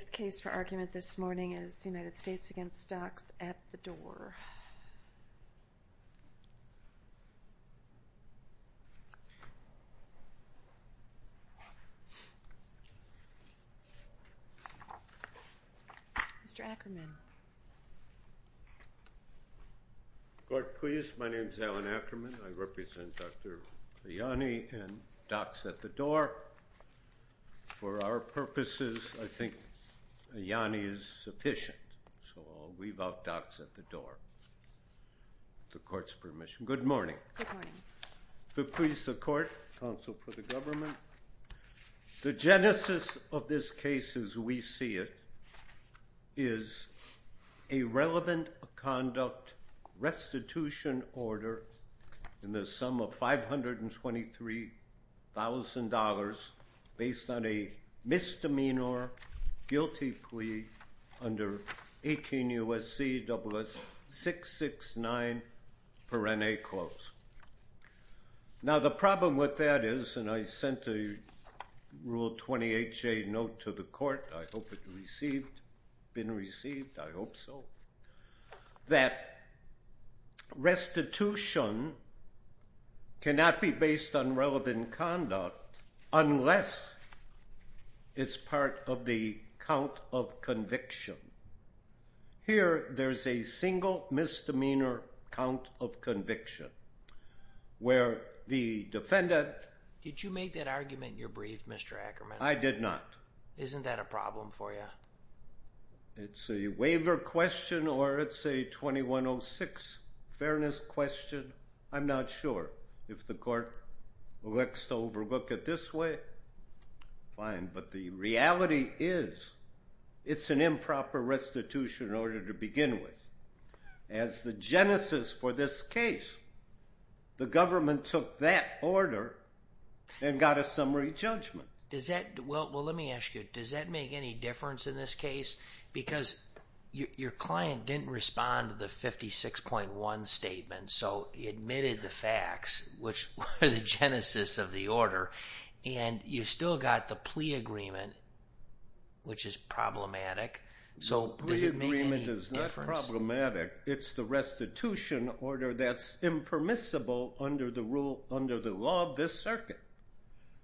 This case for argument this morning is United States v. Docs at the Door. Mr. Ackerman. Court, please. My name is Alan Ackerman. I represent Dr. Liani and Docs at the Door. For our purposes, I think Liani is sufficient, so I'll leave out Docs at the Door. With the Court's permission. Good morning. Good morning. To please the Court, Counsel for the Government. The genesis of this case as we see it is a relevant conduct restitution order in the sum of $523,000 based on a misdemeanor guilty plea under 18 U.S.C. SS-669. Now, the problem with that is, and I sent a Rule 28J note to the Court, I hope it received, been received, I hope so, that restitution cannot be based on relevant conduct unless it's part of the count of conviction. Here, there's a single misdemeanor count of conviction where the defendant... Did you make that argument in your brief, Mr. Ackerman? I did not. Isn't that a problem for you? It's a waiver question or it's a 2106 fairness question. I'm not sure. If the Court elects to overlook it this way, fine, but the reality is it's an improper restitution order to begin with. As the genesis for this case, the government took that order and got a summary judgment. Well, let me ask you, does that make any difference in this case? Because your client didn't respond to the 56.1 statement, so he admitted the facts, which were the genesis of the order, and you still got the plea agreement, which is problematic. The plea agreement is not problematic. It's the restitution order that's impermissible under the law of this circuit.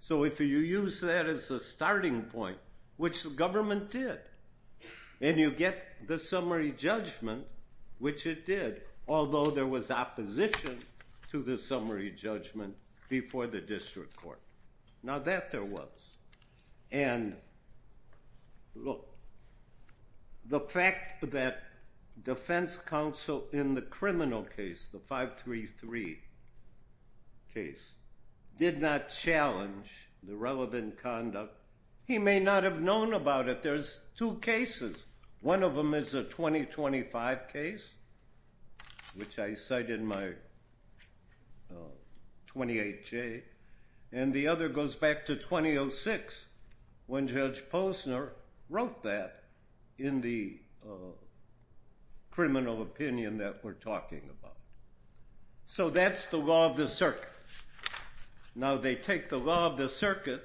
So if you use that as a starting point, which the government did, and you get the summary judgment, which it did, although there was opposition to the summary judgment before the District Court. Now that there was. And look, the fact that defense counsel in the criminal case, the 533 case, did not challenge the relevant conduct, he may not have known about it. There's two cases. One of them is a 2025 case, which I cited in my 28J, and the other goes back to 2006, when Judge Posner wrote that in the criminal opinion that we're talking about. So that's the law of the circuit. Now they take the law of the circuit,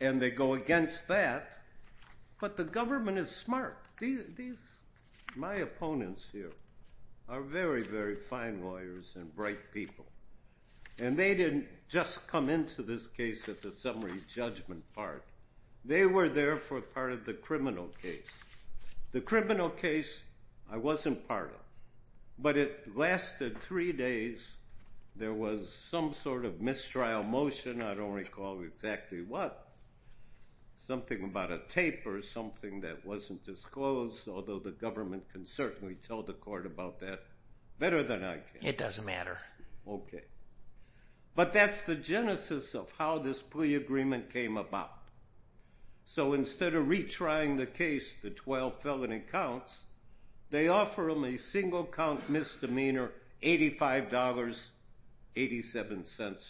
and they go against that, but the government is smart. My opponents here are very, very fine lawyers and bright people. And they didn't just come into this case at the summary judgment part. They were there for part of the criminal case. The criminal case, I wasn't part of. But it lasted three days. There was some sort of mistrial motion. I don't recall exactly what. Something about a tape or something that wasn't disclosed, although the government can certainly tell the court about that better than I can. It doesn't matter. Okay. But that's the genesis of how this plea agreement came about. So instead of retrying the case, the 12 felony counts, they offer them a single-count misdemeanor, $85.87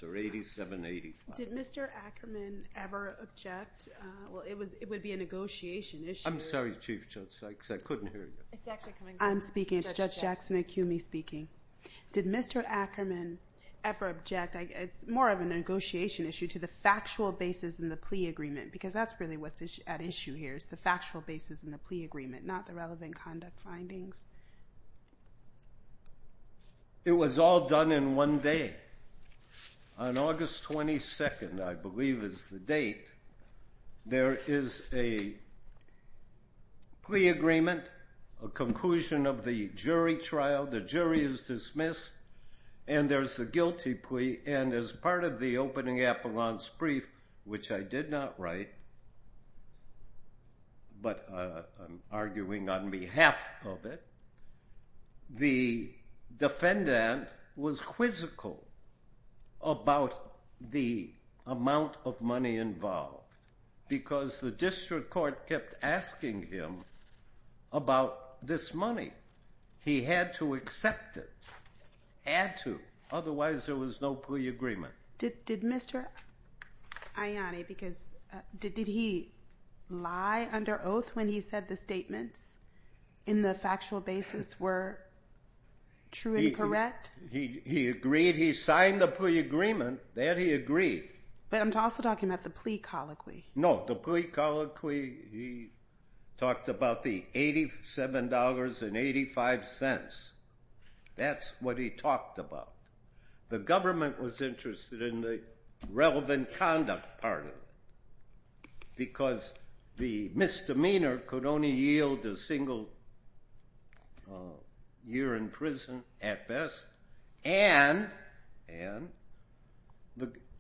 or $87.85. Did Mr. Ackerman ever object? Well, it would be a negotiation issue. I'm sorry, Chief Judge Sykes. I couldn't hear you. It's actually coming back. I'm speaking. It's Judge Jackson of CUMI speaking. Did Mr. Ackerman ever object? It's more of a negotiation issue to the factual basis in the plea agreement, because that's really what's at issue here is the factual basis in the plea agreement, not the relevant conduct findings. It was all done in one day. On August 22nd, I believe is the date, there is a plea agreement, a conclusion of the jury trial. The jury is dismissed, and there's a guilty plea. And as part of the opening appellant's brief, which I did not write, but I'm arguing on behalf of it, the defendant was quizzical about the amount of money involved, because the district court kept asking him about this money. He had to accept it, had to, otherwise there was no plea agreement. Did Mr. Ianni, because did he lie under oath when he said the statements in the factual basis were true and correct? He agreed. He signed the plea agreement. That he agreed. But I'm also talking about the plea colloquy. No, the plea colloquy, he talked about the $87.85. That's what he talked about. The government was interested in the relevant conduct part of it, because the misdemeanor could only yield a single year in prison, at best. And,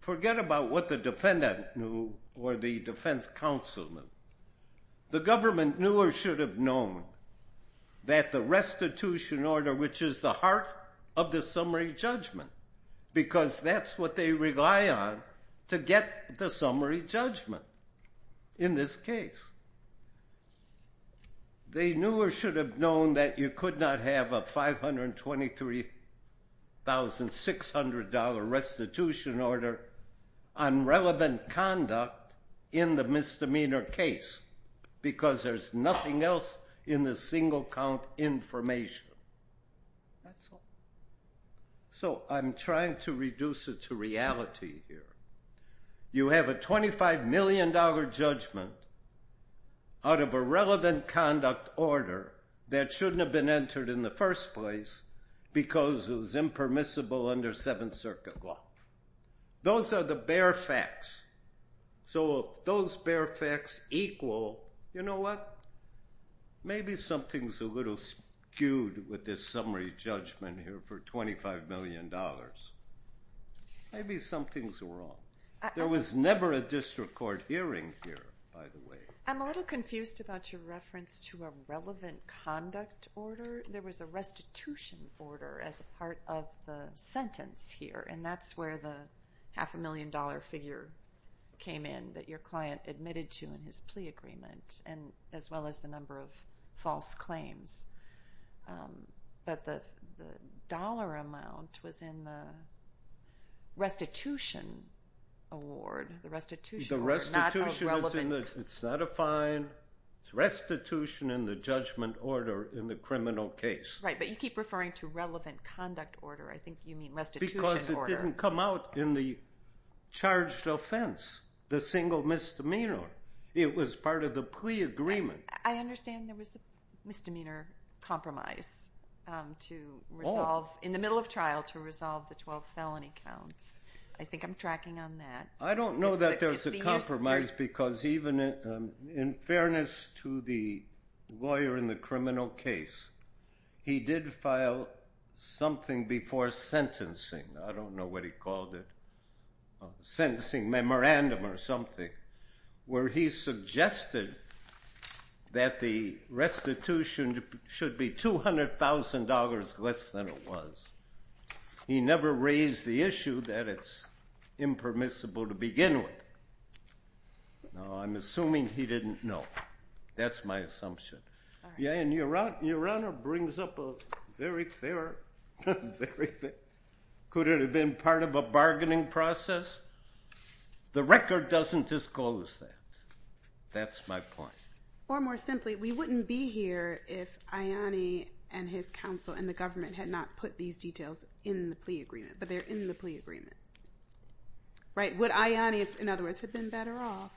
forget about what the defendant knew, or the defense counselman. The government knew or should have known that the restitution order, which is the heart of the summary judgment, because that's what they rely on to get the summary judgment in this case. They knew or should have known that you could not have a $523,600 restitution order on relevant conduct in the misdemeanor case, because there's nothing else in the single count information. That's all. So, I'm trying to reduce it to reality here. You have a $25 million judgment out of a relevant conduct order that shouldn't have been entered in the first place, because it was impermissible under Seventh Circuit law. Those are the bare facts. So, if those bare facts equal, you know what? Maybe something's a little skewed with this summary judgment here for $25 million. Maybe something's wrong. There was never a district court hearing here, by the way. I'm a little confused about your reference to a relevant conduct order. There was a restitution order as a part of the sentence here, and that's where the half a million dollar figure came in that your client admitted to in his plea agreement, as well as the number of false claims. But the dollar amount was in the restitution award, the restitution order. The restitution is not a fine. It's restitution in the judgment order in the criminal case. Right, but you keep referring to relevant conduct order. I think you mean restitution order. Because it didn't come out in the charged offense, the single misdemeanor. It was part of the plea agreement. I understand there was a misdemeanor compromise in the middle of trial to resolve the 12 felony counts. I think I'm tracking on that. I don't know that there was a compromise because even in fairness to the lawyer in the criminal case, he did file something before sentencing. I don't know what he called it. A sentencing memorandum or something, where he suggested that the restitution should be $200,000 less than it was. He never raised the issue that it's impermissible to begin with. No, I'm assuming he didn't know. That's my assumption. Your Honor brings up a very fair, could it have been part of a bargaining process? The record doesn't disclose that. That's my point. Or more simply, we wouldn't be here if Ayani and his counsel and the government had not put these details in the plea agreement. But they're in the plea agreement. Right, would Ayani, in other words, had been better off,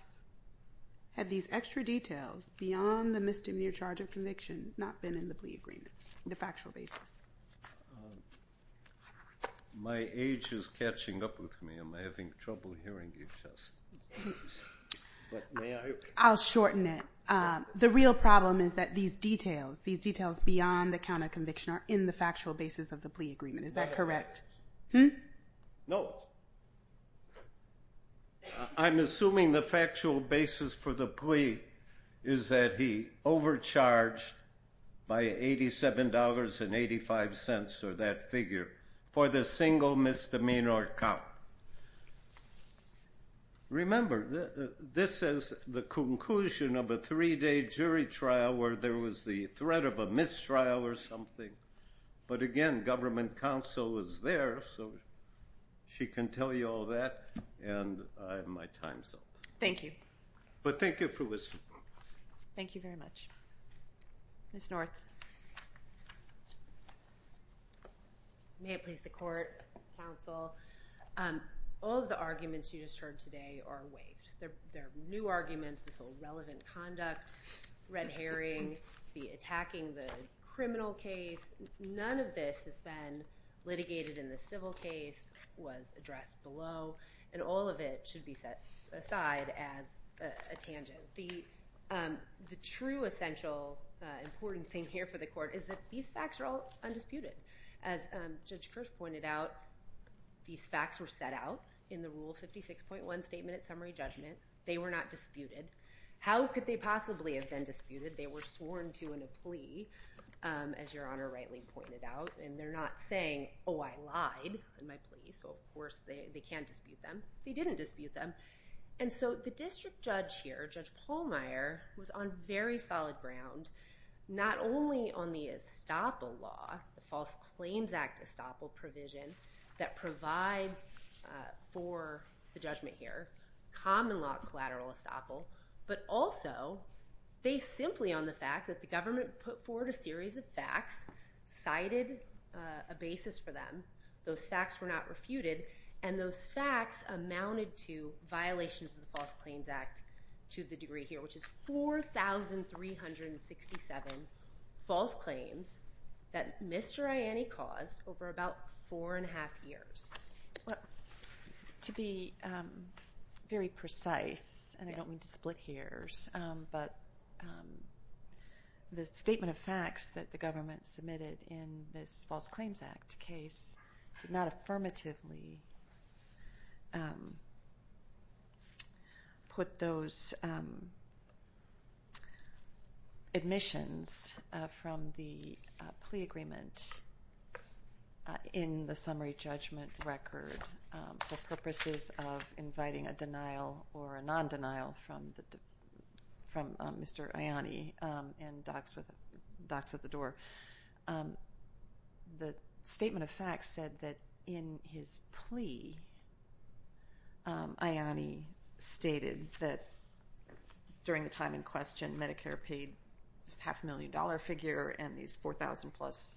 had these extra details beyond the misdemeanor charge of conviction not been in the plea agreement on a factual basis? My age is catching up with me. I'm having trouble hearing you, Tess. May I? I'll shorten it. The real problem is that these details, these details beyond the count of conviction are in the factual basis of the plea agreement. Is that correct? No. I'm assuming the factual basis for the plea is that he overcharged by $87.85, or that figure, for the single misdemeanor count. Remember, this is the conclusion of a three-day jury trial where there was the threat of a mistrial or something. But again, government counsel was there, so she can tell you all that, and I have my time. Thank you. Thank you very much. Ms. North. May it please the court, counsel, all of the arguments you just heard today are waived. They're new arguments, this whole relevant conduct, red herring, the attacking the criminal case, none of this has been litigated in the civil case, was addressed below, and all of it should be set aside as a tangent. The true essential important thing here for the court is that these facts are all undisputed. As Judge Kirsch pointed out, these facts were set out in the Rule 56.1 Statement at Summary Judgment. They were not disputed. How could they possibly have been disputed? They were sworn to in a plea, as Your Honor rightly pointed out, and they're not saying, oh, I lied in my plea, so of course they can't dispute them. They didn't dispute them. And so the district judge here, Judge Pallmeyer, was on very solid ground, not only on the estoppel law, the False Claims Act estoppel provision that provides for the judgment here, common law collateral estoppel, but also based simply on the fact that the government put forward a series of facts, cited a basis for them, those facts were not refuted, and those facts amounted to violations of the False Claims Act to the degree here, which is 4,367 false claims that Mr. Ianni caused over about four and a half years. To be very precise, and I don't mean to split hairs, but the statement of facts that the government submitted in this False Claims Act case did not affirmatively put those admissions from the plea agreement in the summary judgment record for purposes of inviting a denial or a non-denial from Mr. Ianni and docks at the door. The statement of facts said that in his plea, Ianni stated that during the time in question, Medicare paid this half a million dollar figure and these 4,000 plus,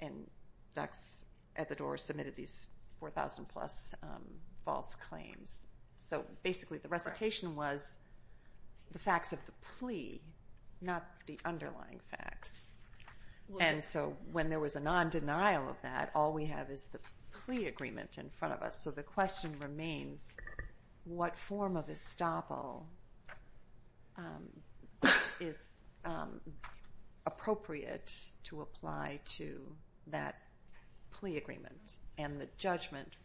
and docks at the door submitted these 4,000 plus false claims. So basically the recitation was the facts of the plea, not the underlying facts. And so when there was a non-denial of that, all we have is the plea agreement in front of us. So the question remains, what form of estoppel is appropriate to apply to that plea agreement and the judgment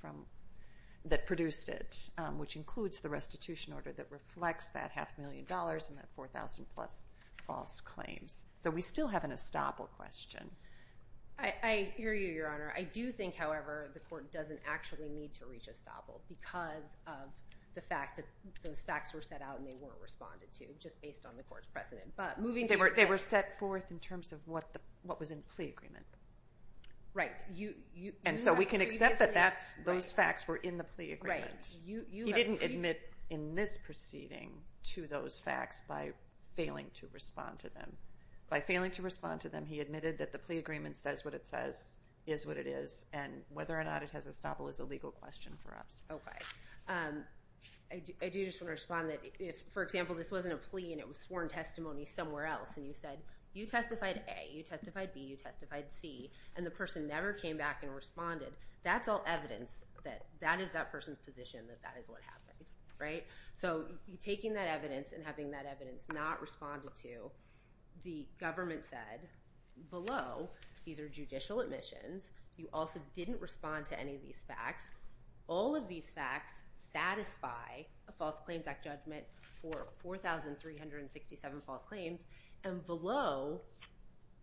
that produced it, which includes the restitution order that reflects that half a million dollars and that 4,000 plus false claims. So we still have an estoppel question. I hear you, Your Honor. I do think, however, the court doesn't actually need to reach estoppel because of the fact that those facts were set out and they weren't responded to just based on the court's precedent. They were set forth in terms of what was in the plea agreement. Right. And so we can accept that those facts were in the plea agreement. He didn't admit in this proceeding to those facts by failing to respond to them. By failing to respond to them, he admitted that the plea agreement says what it says, is what it is, and whether or not it has estoppel is a legal question for us. Okay. I do just want to respond that if, for example, this wasn't a plea and it was sworn testimony somewhere else and you said you testified A, you testified B, you testified C, and the person never came back and responded, that's all evidence that that is that person's position and you're taking that evidence and having that evidence not responded to. The government said below, these are judicial admissions, you also didn't respond to any of these facts. All of these facts satisfy a False Claims Act judgment for 4,367 false claims, and below,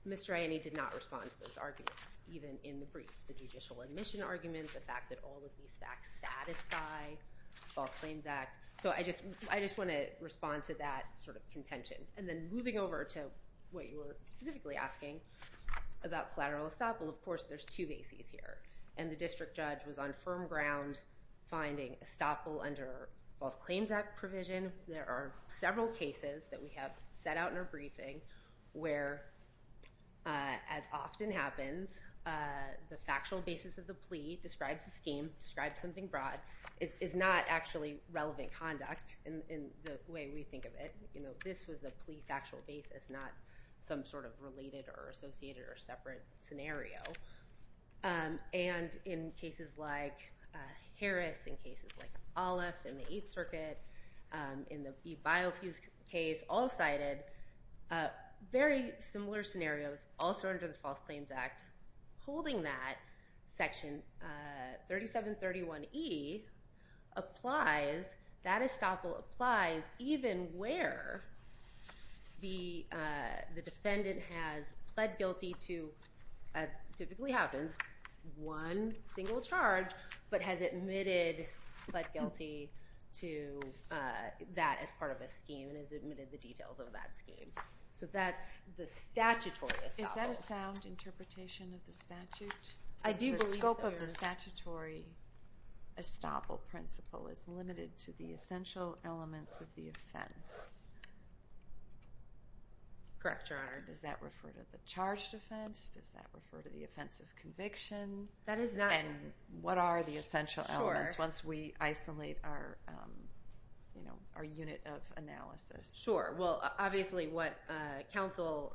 Mr. Ianne did not respond to those arguments even in the brief. The judicial admission arguments, the fact that all of these facts satisfy the False Claims Act. I just want to respond to that sort of contention. And then moving over to what you were specifically asking about collateral estoppel, of course there's two bases here, and the district judge was on firm ground finding estoppel under False Claims Act provision. There are several cases that we have set out in our briefing where, as often happens, the factual basis of the plea describes the scheme, describes something broad, is not actually relevant conduct in the way we think of it. This was a plea factual basis, not some sort of related or associated or separate scenario. And in cases like Harris, in cases like Olive, in the Eighth Circuit, in the E. Biofuse case, all cited very similar scenarios also under the False Claims Act holding that Section 3731E applies, that estoppel applies even where the defendant has pled guilty to, as typically happens, one single charge, but has admitted pled guilty to that as part of a scheme and has admitted the details of that scheme. So that's the statutory estoppel. Is that a sound interpretation of the statute? I do believe so. So the statutory estoppel principle is limited to the essential elements of the offense. Correct, Your Honor. Does that refer to the charged offense? Does that refer to the offense of conviction? That is not. And what are the essential elements once we isolate our unit of analysis? Sure. Well, obviously what counsel,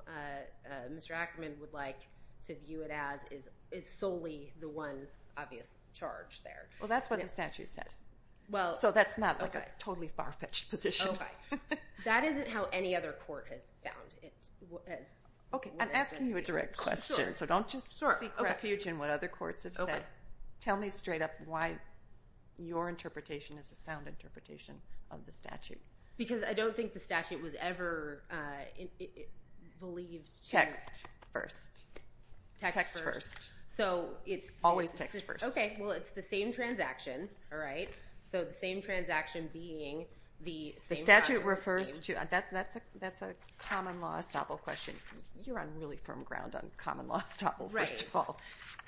Mr. Ackerman, would like to view it as is solely the one obvious charge there. Well, that's what the statute says. So that's not like a totally far-fetched position. Okay. That isn't how any other court has found it. Okay. I'm asking you a direct question. So don't just seek refuge in what other courts have said. Tell me straight up why your interpretation is a sound interpretation of the statute. Because I don't think the statute was ever believed to have Text first. Text first. So it's Always text first. Okay. Well, it's the same transaction. All right. So the same transaction being The statute refers to That's a common law estoppel question. You're on really firm ground on common law estoppel, first of all.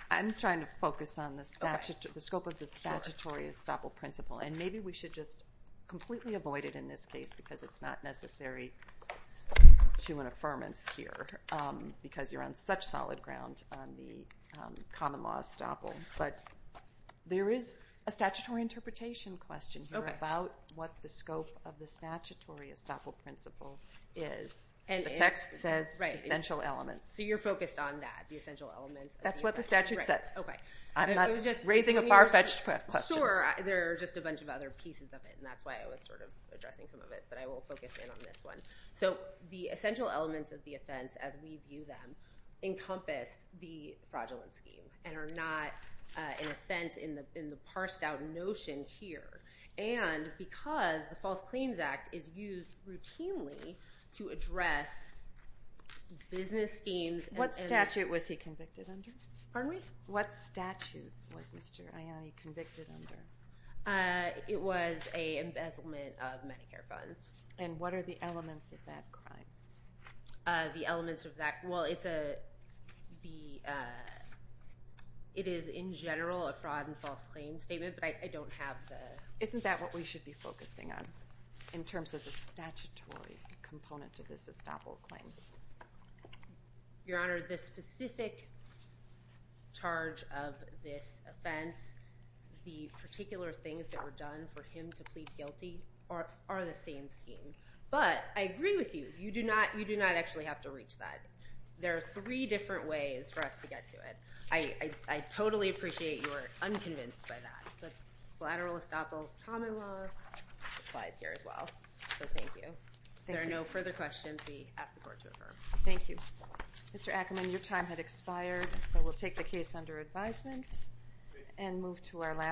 I'm trying to focus on the scope of the statutory estoppel principle. And maybe we should just completely avoid it in this case because it's not necessary to an affirmance here because you're on such solid ground on the common law estoppel. But there is a statutory interpretation question about what the scope of the statutory estoppel principle is. And the text says essential elements. So you're focused on that. The essential elements. That's what the statute says. I'm not raising a far-fetched question. Sure. There are just a bunch of other pieces of it. And that's why I was sort of addressing some of it. But I will focus in on this one. So the essential elements of the offense, as we view them, encompass the fraudulent scheme and are not an offense in the parsed out notion here. And because the False Claims Act is used routinely to address business schemes. What statute was he convicted under? Pardon me? What statute was Mr. Aiyani convicted under? It was an embezzlement of Medicare funds. And what are the elements of that crime? The elements of that. Well, it's a it is in general a fraud and false claim statement. But I don't have the. Isn't that what we should be focusing on in terms of the statutory component to this estoppel claim? Your Honor, the specific charge of this offense, the particular things that were done for him to plead guilty are the same scheme. But I agree with you. You do not actually have to reach that. There are three different ways for us to get to it. I totally appreciate you are unconvinced by that. But lateral estoppel common law applies here as well. So thank you. If there are no further questions, we ask the Court to refer. Thank you. Mr. Ackerman, your time had expired, so we'll take the case under advisement and move to our last case.